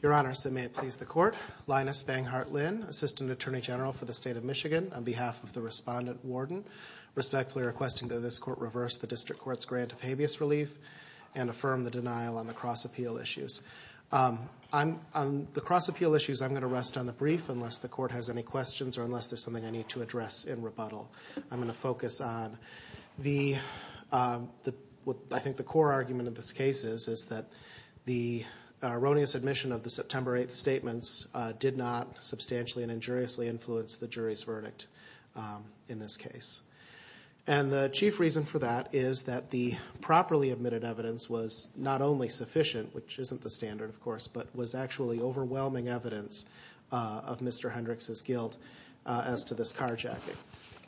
Your Honor, may it please the Court, Linus Banghart Lynn, Assistant Attorney General for the State of Michigan, on behalf of the Respondent Warden, respectfully requesting that this Court reverse the District Court's grant of habeas relief and affirm the denial on the cross-appeal issues. The cross-appeal issues, I'm going to rest on the brief unless the Court has any questions or unless there's something I need to address in rebuttal. I'm going to focus on the, I think the core argument of this case is that the erroneous admission of the September 8th statements did not substantially and injuriously influence the jury's verdict in this case. And the chief reason for that is that the properly admitted evidence was not only sufficient, which isn't the standard of course, but was actually overwhelming evidence of Mr. Hendrix's guilt as to this carjacking.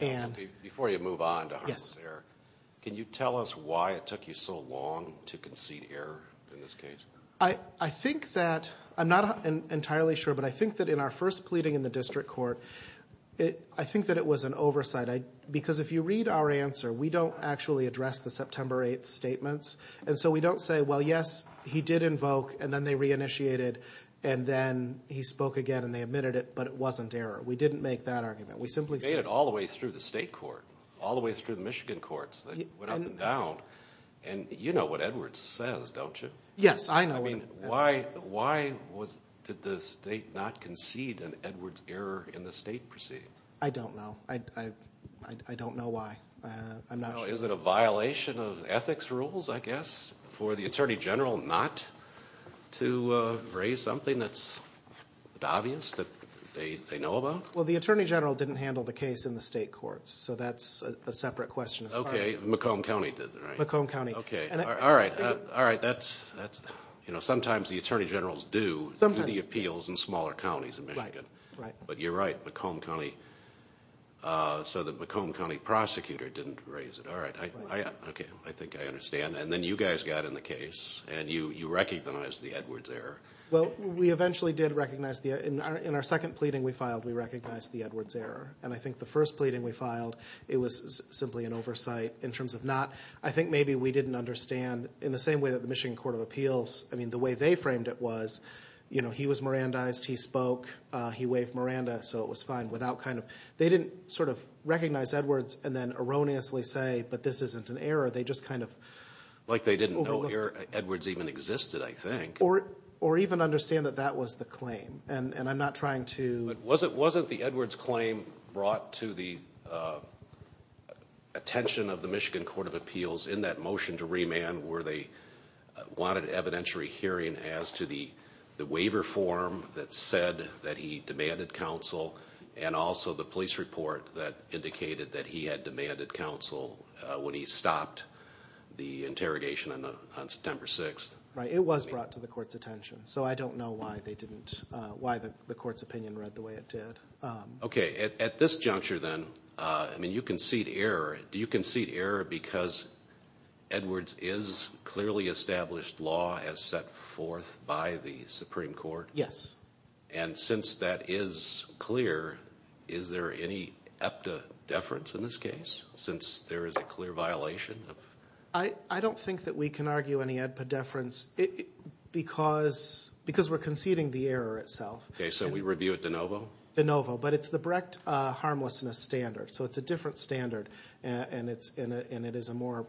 And Judge Goldberg Before you move on to harmless error, can you tell us why it took you so long to concede error in this case? Linus Banghart I think that, I'm not entirely sure, but I think that in our first pleading in the District Court, I think that it was an oversight because if you read our answer, we don't actually address the September 8th statements. And so we don't say, well, yes, he did invoke and then they re-initiated and then he spoke again and they admitted it, but it wasn't error. We didn't make that argument. We simply said Judge Goldberg You made it all the way through the state court, all the way through the Michigan courts that went up and down, and you know what Edwards says, don't you? Linus Banghart Yes, I know what Edwards says. Judge Goldberg I mean, why did the state not concede an Edwards error in the state proceeding? Linus Banghart I don't know. I don't know why. I'm not sure. Judge Goldberg Is it a violation of ethics rules, I guess, for the Attorney General not to raise something that's obvious that they know about? Linus Banghart Well, the Attorney General didn't handle the case in the state courts, so that's a separate question as far as Judge Goldberg Okay. Macomb County did, right? Linus Banghart Macomb County. Judge Goldberg Okay. All right. All right. That's, you know, sometimes the Attorney Generals do Linus Banghart Sometimes. Judge Goldberg do the appeals in smaller counties in Michigan. Linus Banghart Right. Right. Judge Goldberg But you're right. Linus Banghart So, the Macomb County prosecutor didn't raise it. All right. Okay. I think I understand. And then you guys got in the case, and you recognized the Edwards error. Linus Banghart Well, we eventually did recognize the, in our second pleading we filed, we recognized the Edwards error. And I think the first pleading we filed, it was simply an oversight. In terms of not, I think maybe we didn't understand. In the same way that the Michigan Court of Appeals, I mean, the way they framed it was, you know, he was Mirandized, he spoke, he waved Miranda, so it was fine. They didn't sort of recognize Edwards and then erroneously say, but this isn't an error. They just kind of... Judge Goldberg Like they didn't know Edwards even existed, I think. Linus Banghart Or even understand that that was the claim. And I'm not trying to... Judge Goldberg But wasn't the Edwards claim brought to the attention of the Michigan Court of Appeals in that motion to remand where they wanted evidentiary hearing as to the waiver form that said that he demanded counsel and also the police report that indicated that he had demanded counsel when he stopped the interrogation on September 6th? Linus Banghart Right. It was brought to the court's attention. So I don't know why they didn't, why the court's opinion read the way it did. Judge Goldberg Okay. At this juncture then, I mean, you concede error. Do you concede error because Edwards is clearly established law as set forth by the Supreme Court? Linus Banghart Yes. Judge Goldberg And since that is clear, is there any EPTA deference in this case, since there is a clear violation? Linus Banghart I don't think that we can argue any EPTA deference because we're conceding the error itself. Judge Goldberg Okay. So we review it de novo? Linus Banghart De novo. But it's the Brecht harmlessness standard. So it's a different standard and it is a more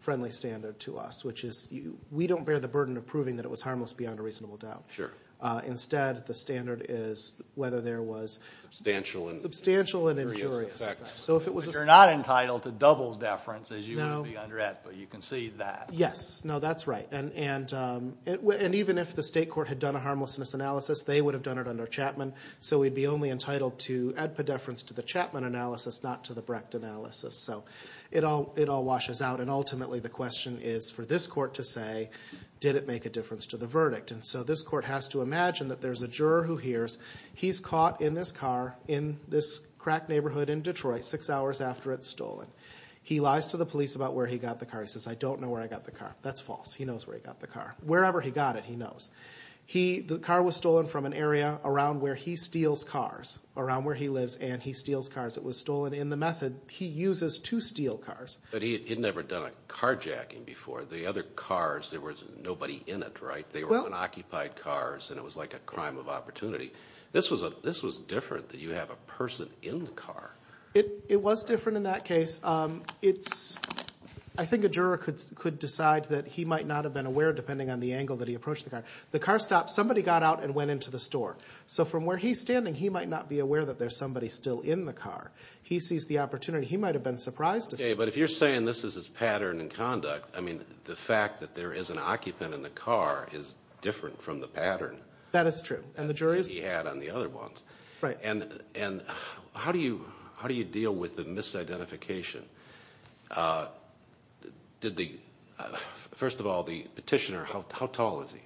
friendly standard to us, which is we don't bear the burden of proving that it was harmless beyond a reasonable doubt. Judge Goldberg Sure. Linus Banghart Instead, the standard is whether there was Judge Goldberg Substantial and injurious. So if it was a... Judge Chalmers You're not entitled to double deference as you would be under EPTA. You concede that. Linus Banghart No. Yes. No, that's right. And even if the state court had done a harmlessness analysis, they would have done it under Chapman. So we'd be only entitled to add pedeference to the Chapman analysis, not to the Brecht analysis. So it all washes out and ultimately the question is for this court to say, did it make a difference to the verdict? And so this court has to imagine that there's a juror who hears, he's caught in this car in this crack neighborhood in Detroit six hours after it's stolen. He lies to the police about where he got the car. He says, I don't know where I got the car. That's false. He knows where he got the car. Wherever he got it, he knows. He, the car was stolen from an area around where he steals cars, around where he lives and he steals cars. It was stolen in the method he uses to steal cars. But he had never done a carjacking before. The other cars, there was nobody in it, right? They were unoccupied cars and it was like a crime of opportunity. This was a, this was different that you have a person in the car. It was different in that case. It's, I think a juror could, could decide that he might not have been aware depending on the angle that he approached the car. The car stopped. Somebody got out and went into the store. So from where he's standing, he might not be aware that there's somebody still in the car. He sees the opportunity. He might've been surprised to see. Okay. But if you're saying this is his pattern and conduct, I mean, the fact that there is an occupant in the car is different from the pattern. That is true. And the jury is. He had on the other ones. Right. And, and how do you, how do you deal with the misidentification? Did the, first of all, the petitioner, how, how tall is he?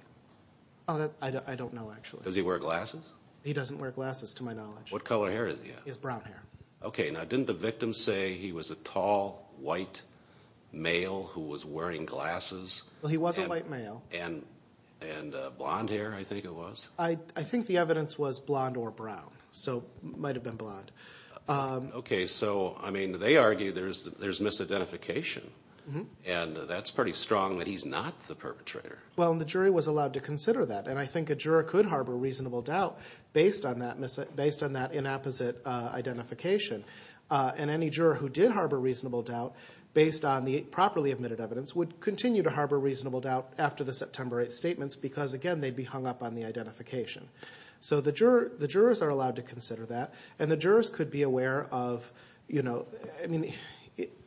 I don't know, actually. Does he wear glasses? He doesn't wear glasses to my knowledge. What color hair is he? He has brown hair. Okay. Now, didn't the victim say he was a tall white male who was wearing glasses? Well, he was a white male and, and a blonde hair, I think it was. I think the evidence was blonde or brown. So might've been blonde. Okay. So, I mean, they argue there's, there's misidentification and that's pretty strong that he's not the perpetrator. Well, and the jury was allowed to consider that. And I think a juror could harbor reasonable doubt based on that misident, based on that inapposite identification. And any juror who did harbor reasonable doubt based on the properly admitted evidence would continue to harbor reasonable doubt after the September 8th statements, because again, they'd be hung up on the identification. So the juror, the jurors are allowed to consider that. And the jurors could be aware of, you know, I mean,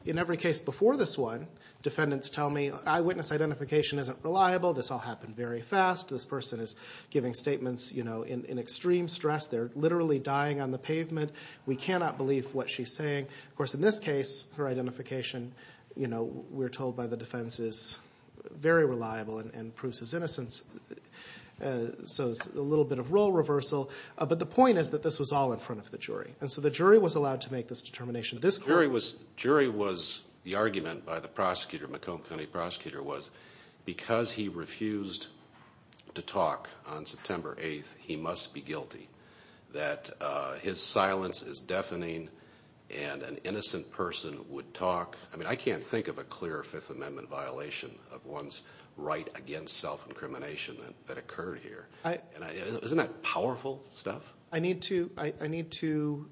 in every case before this one, defendants tell me eyewitness identification isn't reliable. This all happened very fast. This person is giving statements, you know, in, in extreme stress. They're literally dying on the pavement. We cannot believe what she's saying. Of course, in this case, her identification, you know, we're told by the defense is very reliable and proves his innocence. So it's a little bit of role reversal, but the point is that this was all in front of the jury. And so the jury was allowed to make this determination. This jury was, jury was, the argument by the prosecutor, McComb County prosecutor was because he refused to talk on September 8th, he must be guilty that his silence is deafening and an innocent person would talk. I mean, I can't think of a clear fifth amendment violation of one's right against self-incrimination that occurred here. And isn't that powerful stuff? I need to, I need to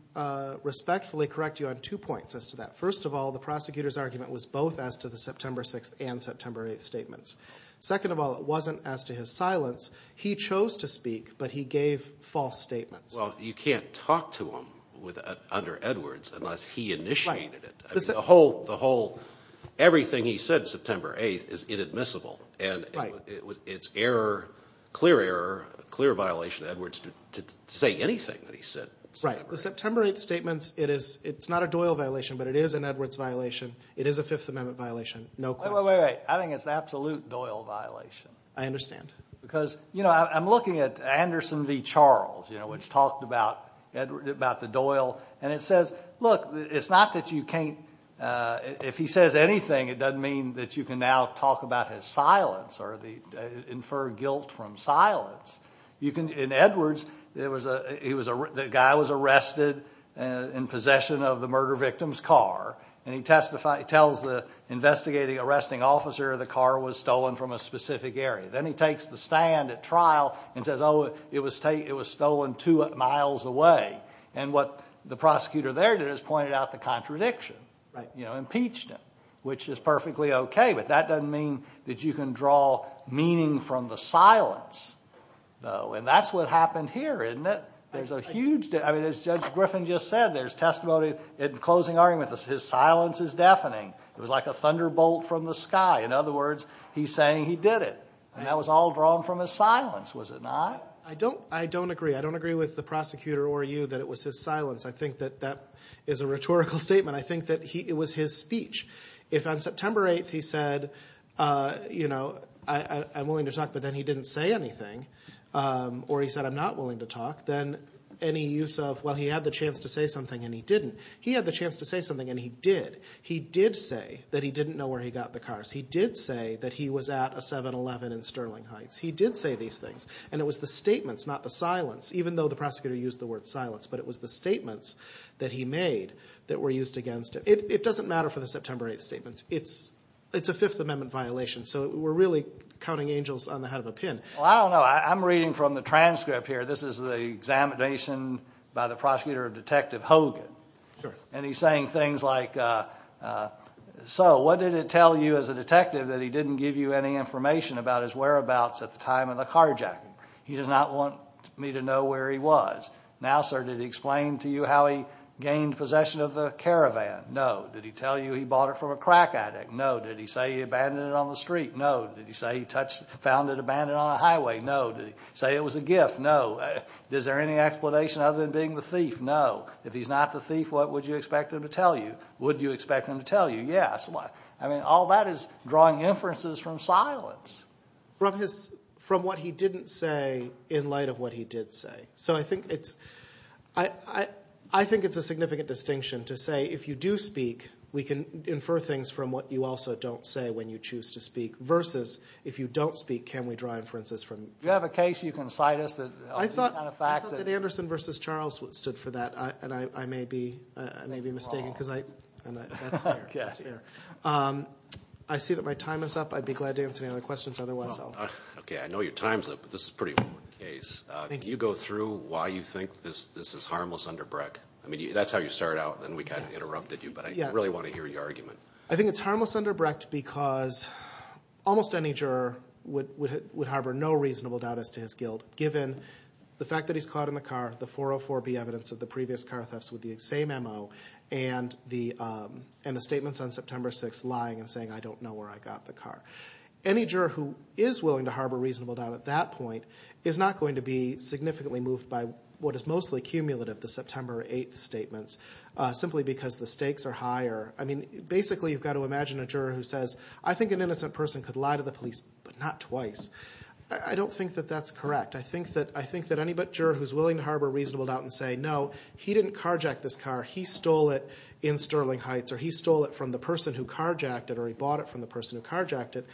respectfully correct you on two points as to that. First of all, the prosecutor's argument was both as to the September 6th and September 8th statements. Second of all, it wasn't as to his silence. He chose to speak, but he gave false statements. Well, you can't talk to him with, under Edwards unless he initiated it. The whole, the whole, everything he said September 8th is inadmissible and it's error, clear error, clear violation of Edwards to say anything that he said. Right. The September 8th statements, it is, it's not a Doyle violation, but it is an Edwards violation. It is a fifth amendment violation. No question. Wait, wait, wait, wait. I think it's an absolute Doyle violation. I understand. Because, you know, I'm looking at Anderson v. Charles, you know, which talked about the Doyle. And it says, look, it's not that you can't, if he says anything, it doesn't mean that you can now talk about his silence or the, infer guilt from silence. You can, in Edwards, it was a, he was a, the guy was arrested in possession of the murder victim's car. And he testified, he tells the investigating arresting officer the car was stolen from a specific area. Then he takes the stand at trial and says, oh, it was, it was stolen two miles away. And what the prosecutor there did is pointed out the contradiction, you know, impeached him, which is perfectly okay, but that doesn't mean that you can draw meaning from the silence. No. And that's what happened here, isn't it? There's a huge, I mean, as Judge Griffin just said, there's testimony, in closing argument, his silence is deafening. It was like a thunderbolt from the sky. In other words, he's saying he did it and that was all drawn from his silence. Was it not? I don't, I don't agree. I don't agree with the prosecutor or you that it was his silence. I think that that is a rhetorical statement. I think that he, it was his speech. If on September 8th he said, you know, I'm willing to talk, but then he didn't say anything. Or he said, I'm not willing to talk. Then any use of, well, he had the chance to say something and he didn't. He had the chance to say something and he did. He did say that he didn't know where he got the cars. He did say that he was at a 7-Eleven in Sterling Heights. He did say these things. And it was the statements, not the silence, even though the prosecutor used the word silence, but it was the statements that he made that were used against him. It doesn't matter for the September 8th statements. It's a Fifth Amendment violation. So we're really counting angels on the head of a pin. Well, I don't know. I'm reading from the transcript here. This is the examination by the prosecutor of Detective Hogan. And he's saying things like, so what did it tell you as a detective that he didn't give you any information about his whereabouts at the time of the carjacking? He did not want me to know where he was. Now, sir, did he explain to you how he gained possession of the caravan? No. Did he tell you he bought it from a crack addict? No. Did he say he abandoned it on the street? No. Did he say he found it abandoned on a highway? No. Did he say it was a gift? No. Is there any explanation other than being the thief? No. If he's not the thief, what would you expect him to tell you? Would you expect him to tell you? Yes. I mean, all that is drawing inferences from silence. From what he didn't say in light of what he did say. So I think it's a significant distinction to say if you do speak, we can infer things from what you also don't say when you choose to speak versus if you don't speak, can we draw inferences from it? Do you have a case you can cite us of these kind of facts? I thought that Anderson v. Charles stood for that, and I may be mistaken because that's fair. That's fair. I see that my time is up. I'd be glad to answer any other questions otherwise. Okay. I know your time's up, but this is a pretty important case. Thank you. Can you go through why you think this is harmless underbrek? I mean, that's how you started out, and then we kind of interrupted you, but I really want to hear your argument. I think it's harmless underbrek because almost any juror would harbor no reasonable doubt as to his guilt given the fact that he's caught in the car, the 404B evidence of the previous car thefts with the same MO and the statements on September 6th lying and saying, I don't know where I got the car. Any juror who is willing to harbor reasonable doubt at that point is not going to be significantly moved by what is mostly cumulative, the September 8th statements, simply because the stakes are higher. I mean, basically you've got to imagine a juror who says, I think an innocent person could lie to the police, but not twice. I don't think that that's correct. I think that any but juror who's willing to harbor reasonable doubt and say, no, he didn't carjack this car, he stole it in Sterling Heights, or he stole it from the person who carjacked it, or he bought it from the person who carjacked it,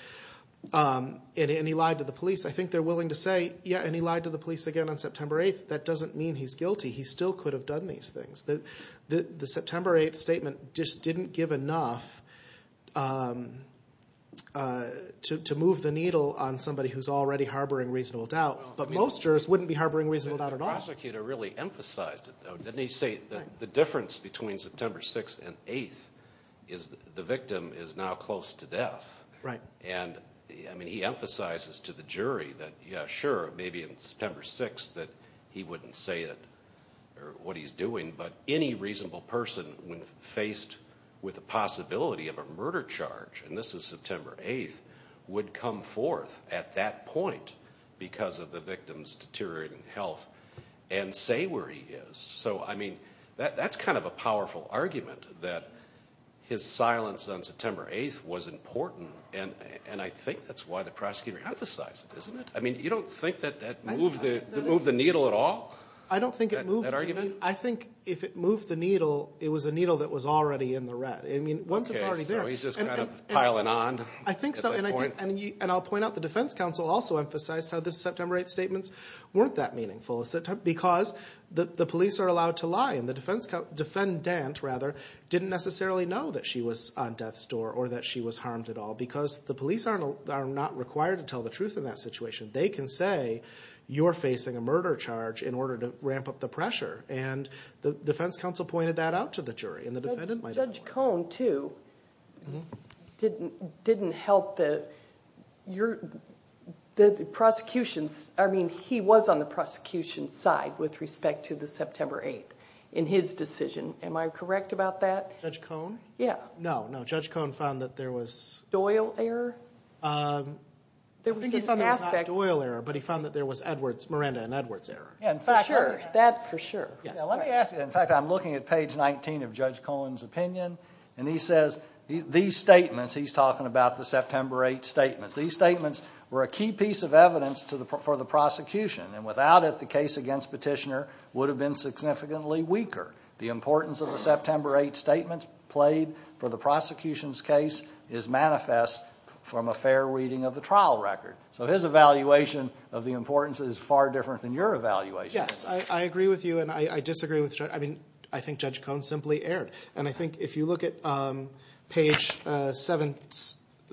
and he lied to the police, I think they're willing to say, yeah, and he lied to the police again on September 8th. That doesn't mean he's guilty. He still could have done these things. The September 8th statement just didn't give enough to move the needle on somebody who's already harboring reasonable doubt, but most jurors wouldn't be harboring reasonable doubt at all. The prosecutor really emphasized it, though. Didn't he say the difference between September 6th and 8th is the victim is now close to death. Right. And, I mean, he emphasizes to the jury that, yeah, sure, maybe in September 6th that he wouldn't say it, or what he's doing, but any reasonable person when faced with a possibility of a murder charge, and this is September 8th, would come forth at that point because of the victim's deteriorating health and say where he is. So, I mean, that's kind of a powerful argument that his silence on September 8th was important, and I think that's why the prosecutor emphasized it, isn't it? I mean, you don't think that that moved the needle at all? I don't think it moved the needle. I think if it moved the needle, it was a needle that was already in the rat. I mean, once it's already there. Okay. So he's just kind of piling on at that point? I think so. And I'll point out the defense counsel also emphasized how the September 8th statements weren't that meaningful because the police are allowed to lie, and the defendant, rather, didn't necessarily know that she was on death's door or that she was harmed at all because the police are not required to tell the truth in that situation. They can say, you're facing a murder charge in order to ramp up the pressure, and the defense counsel pointed that out to the jury, and the defendant might have. But Judge Cohn, too, didn't help the prosecutions... I mean, he was on the prosecution's side with respect to the September 8th in his decision. Am I correct about that? Judge Cohn? Yeah. No, no. Judge Cohn found that there was... Doyle error? I think he found there was not Doyle error, but he found that there was Miranda and Edwards error. For sure. That, for sure. Yes. Well, let me ask you... In fact, I'm looking at page 19 of Judge Cohn's opinion, and he says these statements... He's talking about the September 8th statements. These statements were a key piece of evidence for the prosecution, and without it, the case against Petitioner would have been significantly weaker. The importance of the September 8th statements played for the prosecution's case is manifest from a fair reading of the trial record. So his evaluation of the importance is far different than your evaluation. Yes. I agree with you, and I disagree with... I think Judge Cohn simply erred. I think if you look at page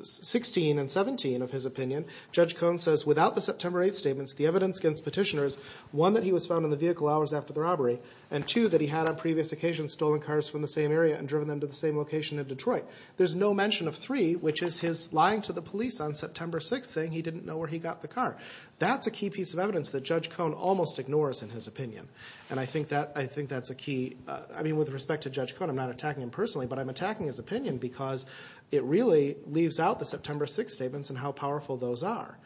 16 and 17 of his opinion, Judge Cohn says, without the September 8th statements, the evidence against Petitioner is, one, that he was found in the vehicle hours after the robbery, and two, that he had on previous occasions stolen cars from the same area and driven them to the same location in Detroit. There's no mention of three, which is his lying to the police on September 6th saying he didn't know where he got the car. That's a key piece of evidence that Judge Cohn almost ignores in his opinion, and I think that's a key... I mean, with respect to Judge Cohn, I'm not attacking him personally, but I'm attacking his opinion because it really leaves out the September 6th statements and how powerful those are,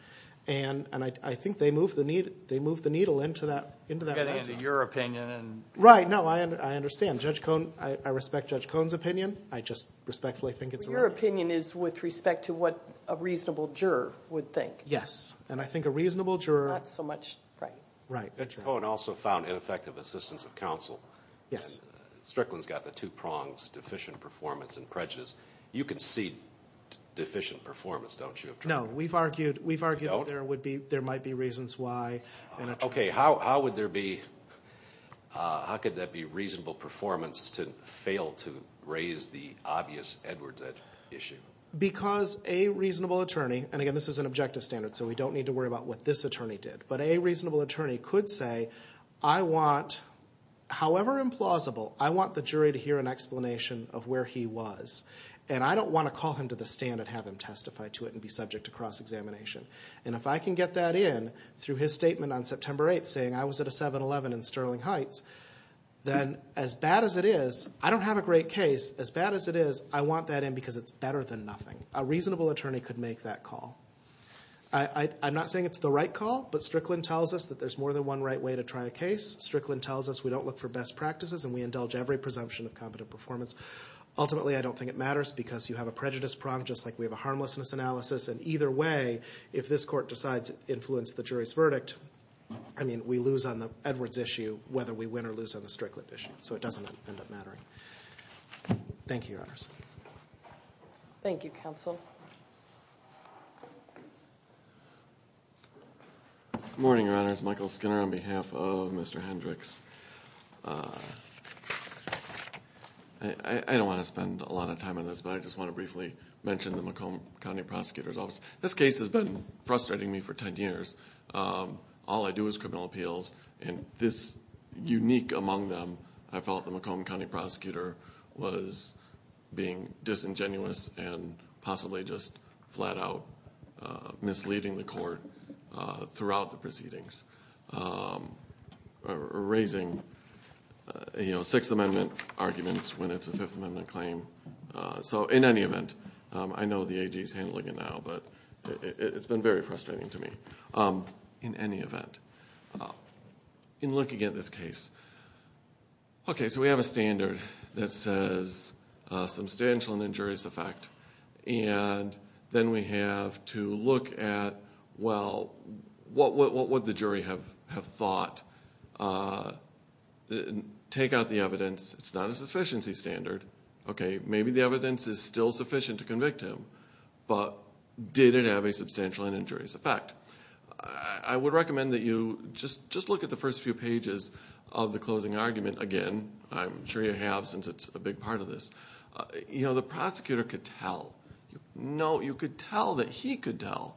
and I think they move the needle into that right now. I'm getting into your opinion and... Right. No, I understand. Judge Cohn... I respect Judge Cohn's opinion. I just respectfully think it's a... Your opinion is with respect to what a reasonable juror would think. Yes, and I think a reasonable juror... Not so much... Right. Right. Exactly. Judge Cohn also found ineffective assistance of counsel. Yes. Strickland's got the two prongs, deficient performance and prejudice. You can see deficient performance, don't you, Attorney? No, we've argued that there might be reasons why... Okay, how would there be... How could that be reasonable performance to fail to raise the obvious Edwards issue? Because a reasonable attorney... Again, this is an objective standard, so we don't need to worry about what this attorney did, but a reasonable attorney could say, however implausible, I want the jury to hear an explanation of where he was, and I don't want to call him to the stand and have him testify to it and be subject to cross-examination. If I can get that in through his statement on September 8th saying I was at a 7-Eleven in Sterling Heights, then as bad as it is, I don't have a great case, as bad as it is, I want that in because it's better than nothing. A reasonable attorney could make that call. I'm not saying it's the right call, but Strickland tells us that there's more than one right way to try a case. Strickland tells us we don't look for best practices and we indulge every presumption of competent performance. Ultimately, I don't think it matters because you have a prejudice prong just like we have a harmlessness analysis, and either way, if this court decides to influence the jury's verdict, I mean, we lose on the Edwards issue whether we win or lose on the Strickland issue, so it doesn't end up mattering. Thank you, Your Honors. Thank you, Counsel. Good morning, Your Honors. Michael Skinner on behalf of Mr. Hendricks. I don't want to spend a lot of time on this, but I just want to briefly mention the Macomb County Prosecutor's Office. This case has been frustrating me for 10 years. All I do is criminal appeals, and this unique among them, I felt the Macomb County Prosecutor was being disingenuous and possibly just flat-out misleading the court throughout the proceedings, raising Sixth Amendment arguments when it's a Fifth Amendment claim. In any event, I know the AG is handling it now, but it's been very frustrating to me. In any event, in looking at this case, okay, so we have a standard that says substantial and injurious effect, and then we have to look at, well, what would the jury have thought? Take out the evidence. It's not a sufficiency standard. Okay, maybe the evidence is still sufficient to convict him, but did it have a substantial and injurious effect? I would recommend that you just look at the first few pages of the closing argument again. I'm sure you have since it's a big part of this. You know, the prosecutor could tell. No, you could tell that he could tell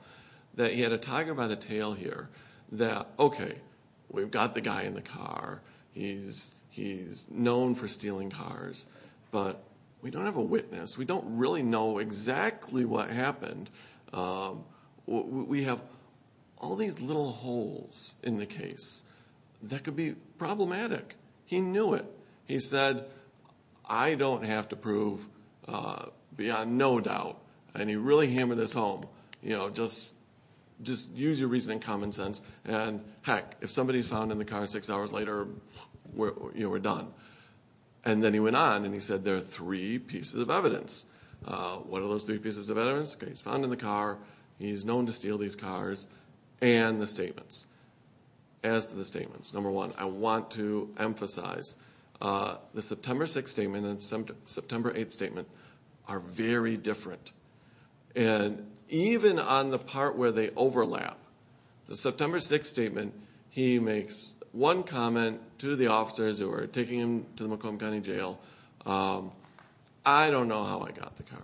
that he had a tiger by the tail here that, okay, we've got the guy in the car, he's known for stealing cars, but we don't have a witness. We don't really know exactly what happened. We have all these little holes in the case that could be problematic. He knew it. He said, I don't have to prove beyond no doubt, and he really hammered this home. You know, just use your reasoning and common sense, and heck, if somebody's found in the car six hours later, you know, we're done. And then he went on and he said there are three pieces of evidence. What are those three pieces of evidence? Okay, he's found in the car, he's known to steal these cars, and the statements. As to the statements, number one, I want to emphasize the September 6th statement and the September 8th statement are very different. And even on the part where they overlap, the September 6th statement, he makes one comment to the officers who are taking him to the Macomb County Jail, I don't know how I got the car.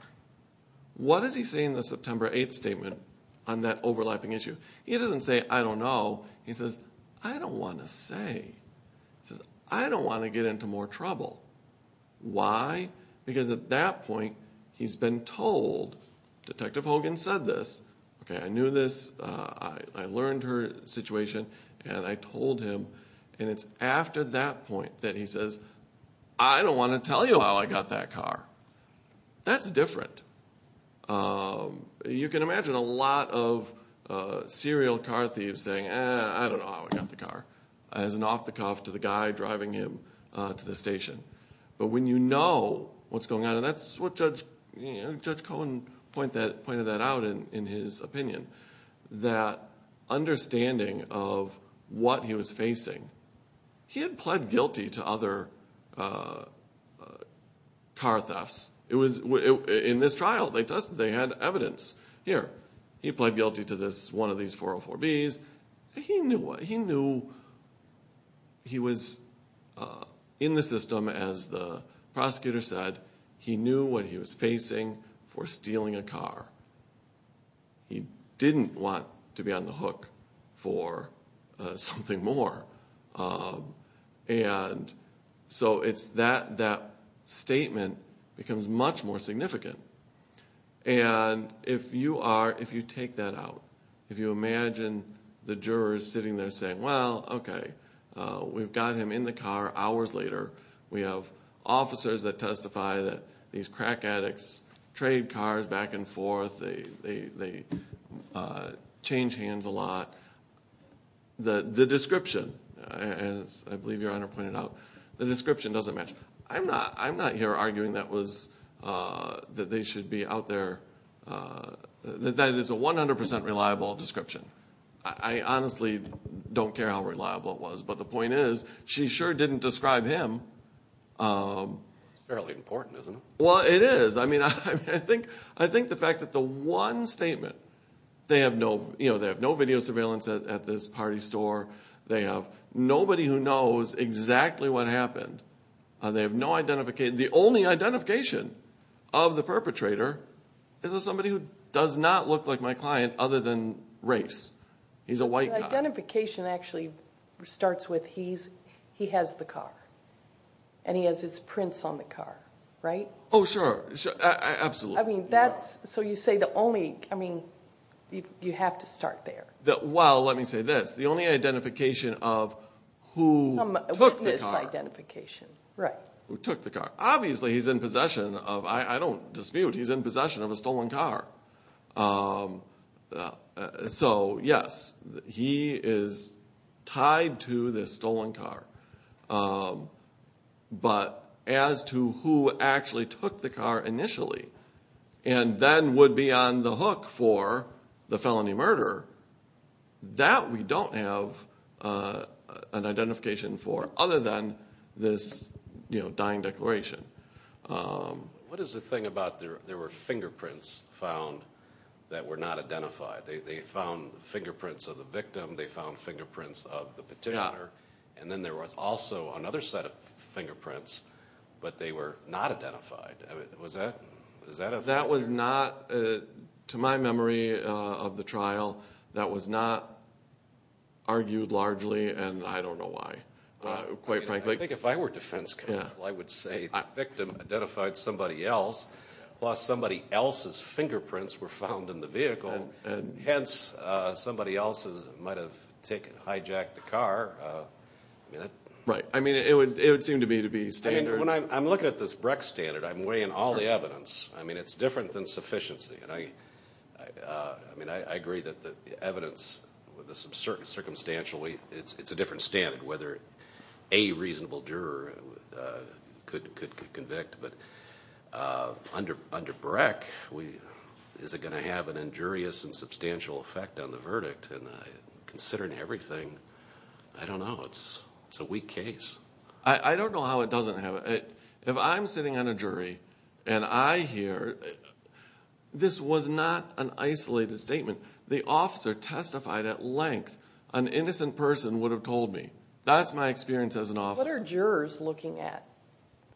What does he say in the September 8th statement on that overlapping issue? He doesn't say, I don't know. He says, I don't want to say. He says, I don't want to get into more trouble. Why? Because at that point, he's been told, Detective Hogan said this. Okay, I knew this, I learned her situation, and I told him. And it's after that point that he says, I don't want to tell you how I got that car. That's different. You can imagine a lot of serial car thieves saying, I don't know how I got the car. As an off the cuff to the guy driving him to the station. But when you know what's going on, and that's what Judge Cohen pointed that out in his opinion. That understanding of what he was facing. He had pled guilty to other car thefts. In this trial, they had evidence. Here, he pled guilty to one of these 404Bs. He knew he was in the system, as the prosecutor said. He knew what he was facing for stealing a car. He didn't want to be on the hook for something more. And if you take that out. If you imagine the jurors sitting there saying, well, okay. We've got him in the car hours later. We have officers that testify that these crack addicts trade cars back and forth. They change hands a lot. The description, as I believe your Honor pointed out. The description doesn't match. I'm not here arguing that they should be out there. That is a 100% reliable description. I honestly don't care how reliable it was. But the point is, she sure didn't describe him. It's fairly important, isn't it? Well, it is. I think the fact that the one statement. They have no video surveillance at this party store. They have nobody who knows exactly what happened. They have no identification. The only identification of the perpetrator is of somebody who does not look like my client other than race. He's a white guy. The identification actually starts with he has the car. And he has his prints on the car, right? Oh, sure. Absolutely. So you say the only. You have to start there. Well, let me say this. The only identification of who took the car. Who took the car. Obviously he's in possession of, I don't dispute, he's in possession of a stolen car. So, yes, he is tied to this stolen car. But as to who actually took the car initially and then would be on the hook for the felony murder, that we don't have an identification for at this dying declaration. What is the thing about there were fingerprints found that were not identified? They found fingerprints of the victim. They found fingerprints of the petitioner. And then there was also another set of fingerprints, but they were not identified. Was that? That was not, to my memory of the trial, that was not argued largely, and I don't know why. Quite frankly. I think if I were defense counsel, I would say the victim identified somebody else, plus somebody else's fingerprints were found in the vehicle. Hence, somebody else might have hijacked the car. Right. I mean, it would seem to me to be standard. I'm looking at this Breck standard. I'm weighing all the evidence. I mean, it's different than sufficiency. I mean, I agree that the evidence, with a certain circumstantial weight, it's a different standard, whether a reasonable juror could convict. But under Breck, is it going to have an injurious and substantial effect on the verdict? And considering everything, I don't know. It's a weak case. I don't know how it doesn't have it. If I'm sitting on a jury, and I hear, this was not an isolated statement. The officer testified at length. An innocent person would have told me. That's my experience as an officer. What are jurors looking at?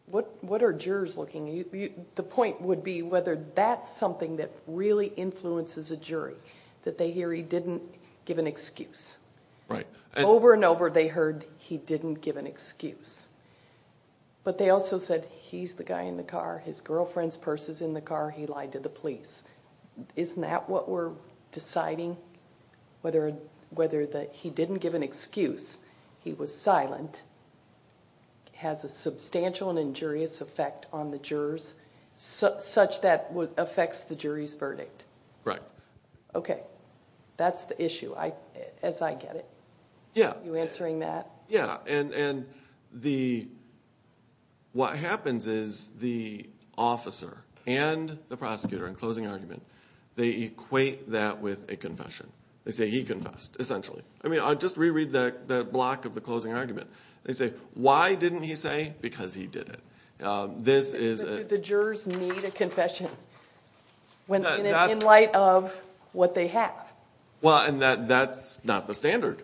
What are jurors looking at? The point would be whether that's something that really influences a jury, that they hear he didn't give an excuse. Right. Over and over, they heard he didn't give an excuse. But they also said, he's the guy in the car. His girlfriend's purse is in the car. He lied to the police. Isn't that what we're deciding? Whether that he didn't give an excuse, he was silent, has a substantial and injurious effect on the jurors, such that it affects the jury's verdict. Right. Okay, that's the issue, as I get it. Yeah. Yeah, and what happens is, the officer and the prosecutor, in closing argument, they equate that with a confession. They say he confessed, essentially. I mean, I'll just re-read that block of the closing argument. They say, why didn't he say? Because he did it. Do the jurors need a confession? In light of what they have? Well, and that's not the standard.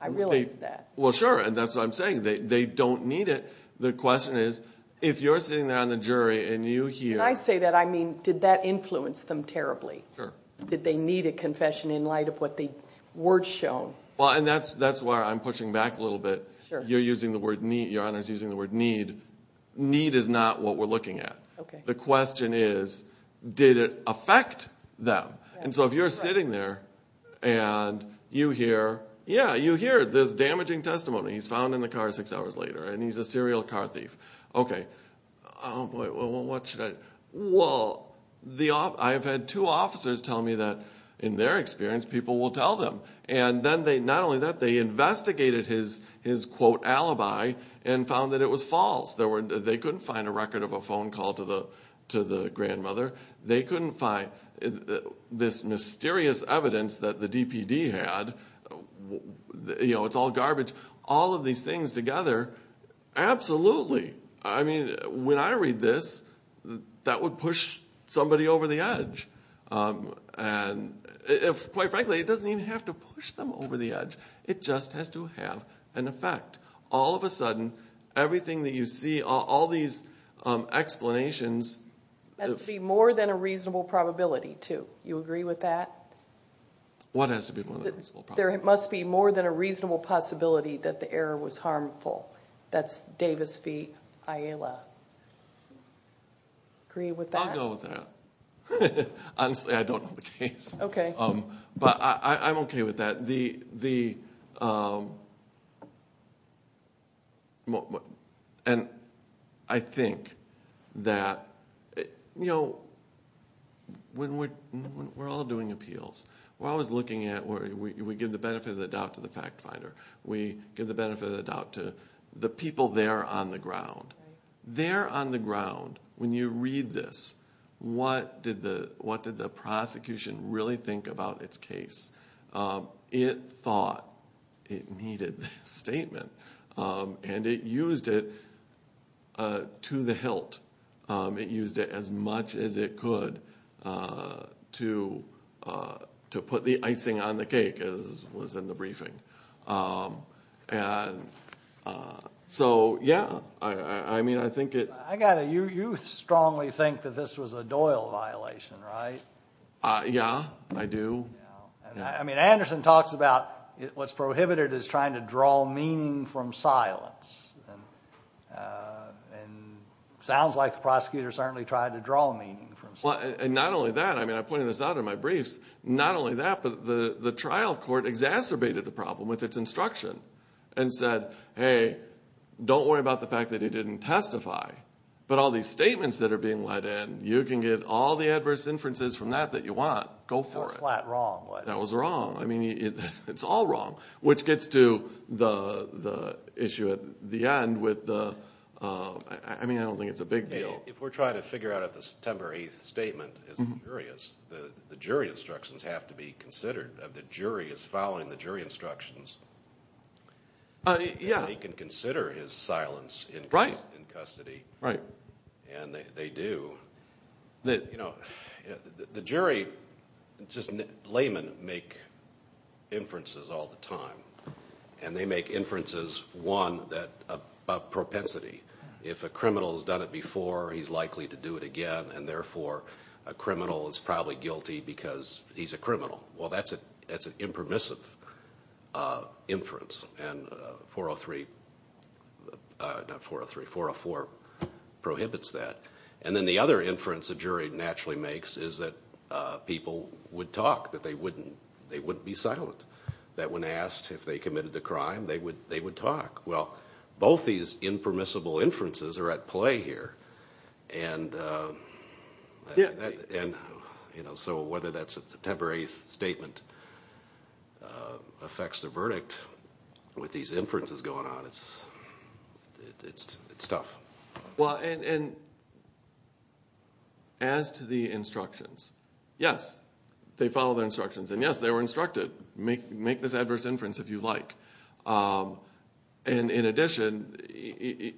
I realize that. Well, sure, and that's what I'm saying. They don't need it. The question is, if you're sitting there and you hear... And I say that, I mean, did that influence them terribly? Did they need a confession in light of what the words show? Well, and that's why I'm pushing back a little bit. You're using the word need. Your Honor's using the word need. Need is not what we're looking at. The question is, did it affect them? And so if you're sitting there and you hear, yeah, you hear this damaging testimony. He's found in the car six hours later and he's a serial car thief. Oh, boy, what should I... Well, I've had two officers tell me that in their experience, people will tell them. And not only that, they investigated his quote alibi and found that it was false. They couldn't find a record of a phone call to the grandmother. They couldn't find this mysterious evidence that the DPD had. You know, it's all garbage. All of these things together, absolutely, I mean, when I read this, that would push somebody over the edge. And quite frankly, it doesn't even have to push them over the edge. It just has to have an effect. All of a sudden, everything that you see, all these explanations... Has to be more than a reasonable probability, too. You agree with that? What has to be more than a reasonable probability? There must be more than a reasonable possibility that the error was harmful. That's Davis v. Ayala. Agree with that? I'll go with that. Honestly, I don't know the case. But I'm okay with that. And I think that, you know, when we're all doing appeals, we're always looking at where we give the benefit of the doubt to the fact finder. We give the benefit of the doubt to the fact finder. And so, when you're on the ground, when you read this, what did the prosecution really think about its case? It thought it needed this statement. And it used it to the hilt. It used it as much as it could to put the icing on the cake, as was in the briefing. And so, yeah. I mean, I think it... I got it. You strongly think that this was a Doyle violation, right? Yeah, I do. I mean, Anderson talks about what's prohibited is trying to draw meaning from silence. And it sounds like the prosecutor certainly tried to draw meaning from silence. Well, and not only that, I mean, I pointed this out in my briefs. Not only that, but the trial court exacerbated the problem with its instruction and said, hey, don't worry about the fact that it didn't testify. But all these statements that are being let in, you can get all the adverse inferences from that that you want. Go for it. That was flat wrong. That was wrong. I mean, it's all wrong. Which gets to the issue at the end with the... I mean, I don't think it's a big deal. If we're trying to figure out if the September 8th statement is injurious, the jury instructions have to be considered. The jury is following the jury instructions. Yeah. They can consider his silence in custody. Right. And they do. You know, the jury, just laymen, make inferences all the time. And they make inferences, one, about propensity. he's likely to do it again. And therefore, a criminal is probably guilty because he's a criminal. Well, that's an impermissive inference. And 403... not 403, 404 prohibits that. And then the other inference a jury naturally makes is that people would talk, that they wouldn't be silent. That when asked if they committed a crime, they would talk. Well, both these impermissible inferences are at play here. And... Yeah. And, you know, so whether that's a temporary statement affects the verdict with these inferences going on, it's... it's tough. Well, and... as to the instructions, yes, they follow their instructions. And yes, they were instructed, make this adverse inference if you like. And in addition, you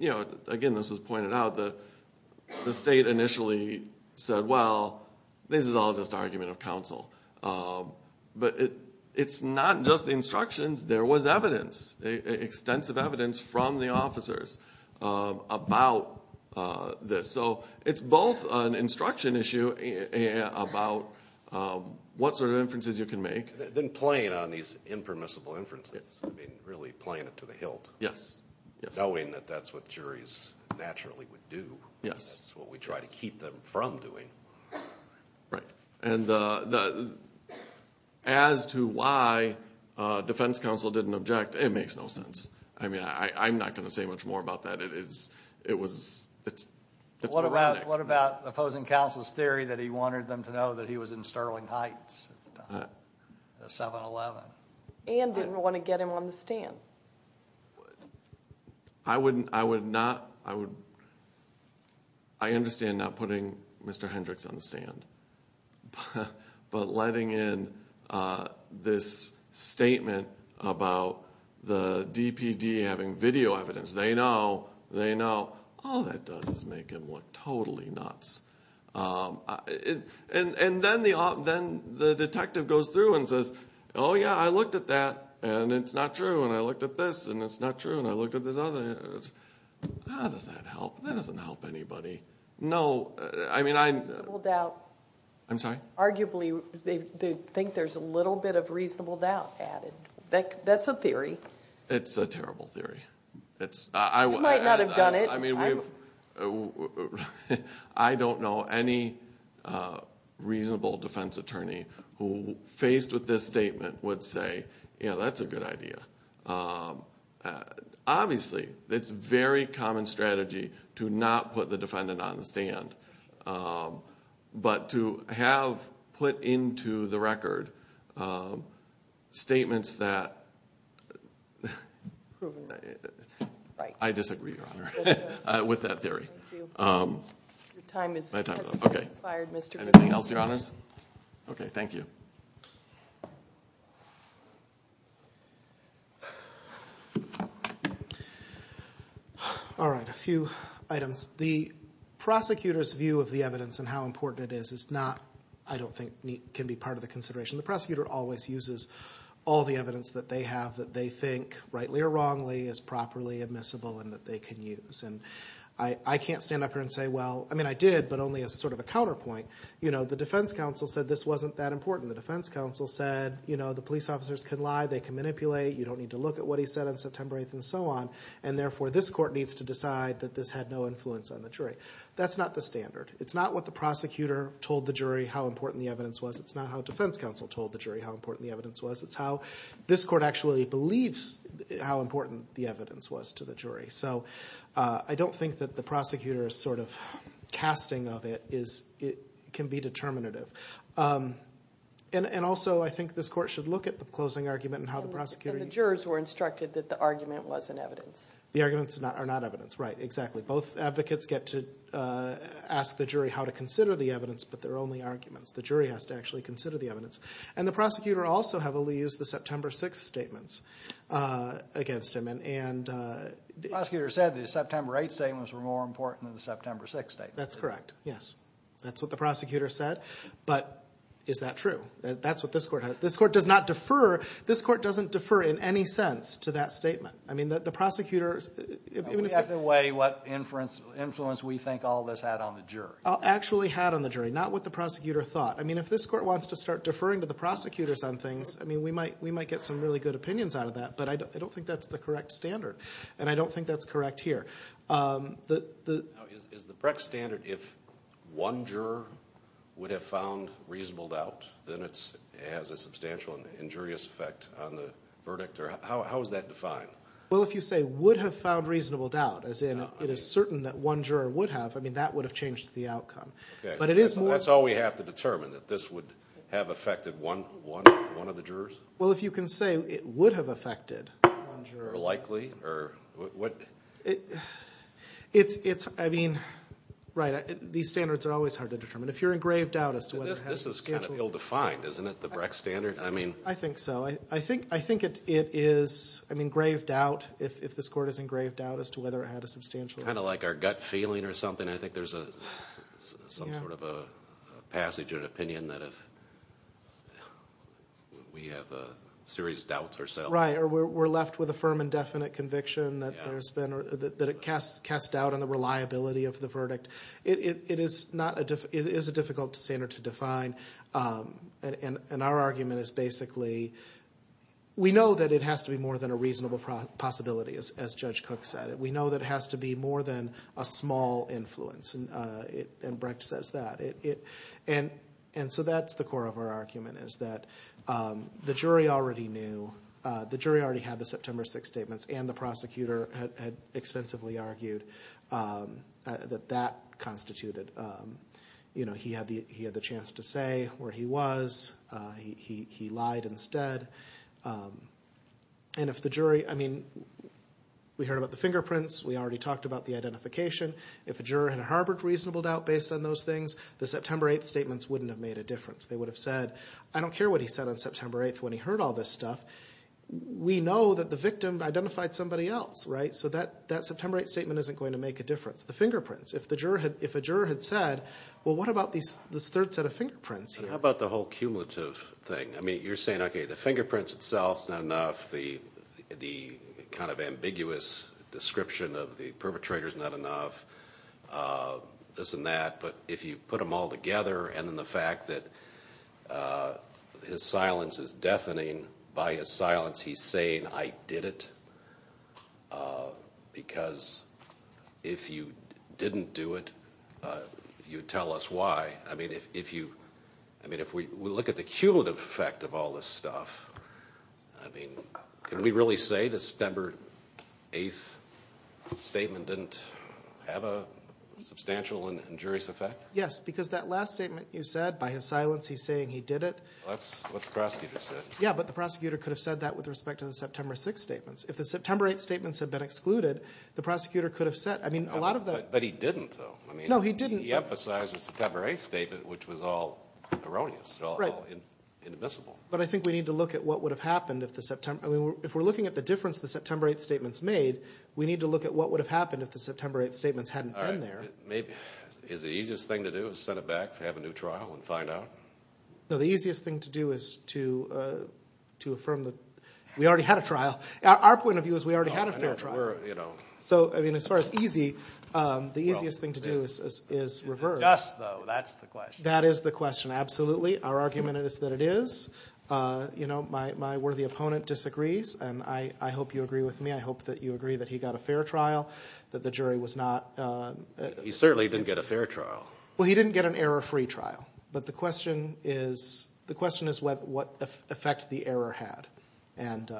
know, again, this was pointed out, the state initially said, well, this is all just argument of counsel. But it... it's not just the instructions, there was evidence, extensive evidence from the officers about this. So it's both an instruction issue about what sort of inferences you can make. Then playing on these impermissible inferences, I mean, really playing it to the hilt. Yes. Knowing that that's what juries naturally would do. Yes. That's what we try to keep them from doing. Right. And the... as to why defense counsel didn't object, it makes no sense. I mean, I'm not going to say much more about that. It is... it was... it's... What about opposing counsel's theory that he wanted them to know that he was in Sterling Heights at 7-Eleven? And didn't want to get him on the stand. I wouldn't... I would not... I would... I understand not putting Mr. Hendricks on the stand. But letting in this statement about the DPD having video evidence. They know. They know. All that does is make him look totally nuts. And then the... then the detective goes through and says, oh yeah, I looked at that and it's not true and I looked at this and it's not true and I looked at this other... and he goes, how does that help? That doesn't help anybody. No... I mean, I... I'm sorry? Arguably, they think there's a little bit of reasonable doubt added. That's a theory. It's a terrible theory. It's... You might not have done it. I mean, we've... I don't know any reasonable defense attorney who, faced with this statement, would say, yeah, that's a good idea. Obviously, it's a very common strategy to not put the defendant on the stand. But to have put into the record statements that... I disagree, Your Honor, with that theory. Anything else, Your Honors? Okay, thank you. All right, a few items. The prosecutor's view of the evidence and how important it is is not, I don't think, can be part of the consideration. The prosecutor always uses all the evidence that they have that they think, rightly or wrongly, is properly admissible and that they can use. I can't stand up here and say, well... I mean, I did, but only as sort of a counterpoint. The defense counsel said this wasn't that important. The defense counsel said, the police officers can lie, they can manipulate, you don't need to look at what he said on September 8th and so on. And therefore, this court needs to decide that this had no influence on the jury. That's not the standard. It's not what the prosecutor told the jury how important the evidence was. It's not how defense counsel told the jury how important the evidence was. It's how this court actually believes how important the evidence was to the jury. So I don't think that the prosecutor's sort of casting of it can be determinative. And also, I think this court should look at the closing argument and how the prosecutor... that the argument wasn't evidence. The arguments are not evidence. Right, exactly. Both advocates get to ask the jury how to consider the evidence, but they're only arguments. The jury has to actually consider the evidence. And the prosecutor also heavily used the September 6th statements against him. And... The prosecutor said the September 8th statements were more important than the September 6th statements. That's correct, yes. That's what the prosecutor said. But, is that true? That's what this court... This court does not defer... This court doesn't defer in any sense to that statement. I mean, the prosecutor... We have to weigh what influence we think all of this had on the jury. Actually had on the jury, not what the prosecutor thought. I mean, if this court wants to start deferring to the prosecutors on things, I mean, we might get some really good opinions out of that, but I don't think that's the correct standard. And I don't think that's correct here. Is the Brecht standard if one juror would have found reasonable doubt, then it has a substantial injurious effect on the verdict? How is that defined? Well, if you say would have found reasonable doubt, as in it is certain that one juror would have, I mean, that would have changed the outcome. But it is more... That's all we have to determine, that this would have affected one of the jurors? Well, if you can say it would have affected one juror... Or likely? Or... What... It's... I mean... Right. These standards are always hard to determine. If you're in grave doubt as to whether... This is kind of ill-defined, isn't it, the Brecht standard? I mean... I think so. I think it is... I mean, grave doubt, if this court is in grave doubt, as to whether it had a substantial... Kind of like our gut feeling or something. I think there's some sort of a passage or an opinion that if... we have serious doubts ourselves... Right. Or we're left with a firm and definite conviction that there's been... That it casts doubt on the reliability of the verdict. It is not... It is a difficult standard to define. And our argument is basically... We know that it has to be more than a reasonable possibility, as Judge Cook said. We know that it has to be more than a small influence. And Brecht says that. And so that's the core of our argument is that the jury already knew... The jury already had the September 6th statements and the prosecutor had extensively argued that that constituted... He had the chance to say where he was. He lied instead. And if the jury... I mean... We heard about the fingerprints. We already talked about the identification. If a juror had harbored reasonable doubt based on those things, the September 8th statements wouldn't have made a difference. They would have said, I don't care what he said on September 8th when he heard all this stuff. We know that the victim identified somebody else, right? So that September 8th statement isn't going to make a difference. The fingerprints. If a juror had said, well, what about this third set of fingerprints? How about the whole cumulative thing? I mean, you're saying, okay, the fingerprints itself is not enough. The kind of ambiguous description of the perpetrator is not enough. This and that. But if you put them all together and then the fact that his silence is deafening, by his silence, he's saying, I did it. Because if you didn't do it, you tell us why. I mean, if we look at the cumulative effect of all this stuff, I mean, can we really say the September 8th statement didn't have a substantial and injurious effect? Yes, because that last statement you said, by his silence, he's saying he did it. That's what the prosecutor said. Yeah, but the prosecutor could have said that with respect to the September 6th statements. If the September 8th statements had been excluded, the prosecutor could have said, I mean, a lot of the... But he didn't, though. No, he didn't. He emphasized the September 8th statement, which was all erroneous, all inadmissible. Right. But I think we need to look at what would have happened if the September... I mean, if we're looking at the difference the September 8th statements made, we need to look at what would have happened if the September 8th statements hadn't been there. Maybe, is the easiest thing to do is send it back, have a new trial, and find out? No, the easiest thing to do is to affirm that we already had a trial. Our point of view is we already had a fair trial. So, I mean, as far as easy, the easiest thing to do is reverse. That's the question. That is the question. Absolutely. Our argument is that it is. You know, my worthy opponent disagrees. And I hope you agree with me. I hope that you agree that he got a fair trial, that the jury was not... He certainly didn't get a fair trial. Well, he didn't get an error-free trial. But the question is, the question is what effect the error had. And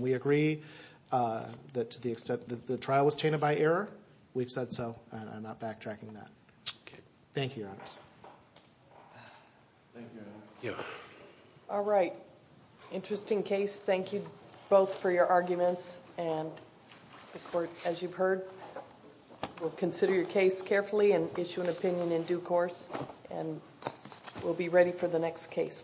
we agree that to the extent that the trial was tainted by error, we've said so. I'm not backtracking that. Okay. Thank you, Your Honor. Thank you, Your Honor. You're welcome. All right. Interesting case. Thank you both for your arguments. And the court, as you've heard, will consider your case carefully and issue an opinion in due course. And we'll be ready for the next case.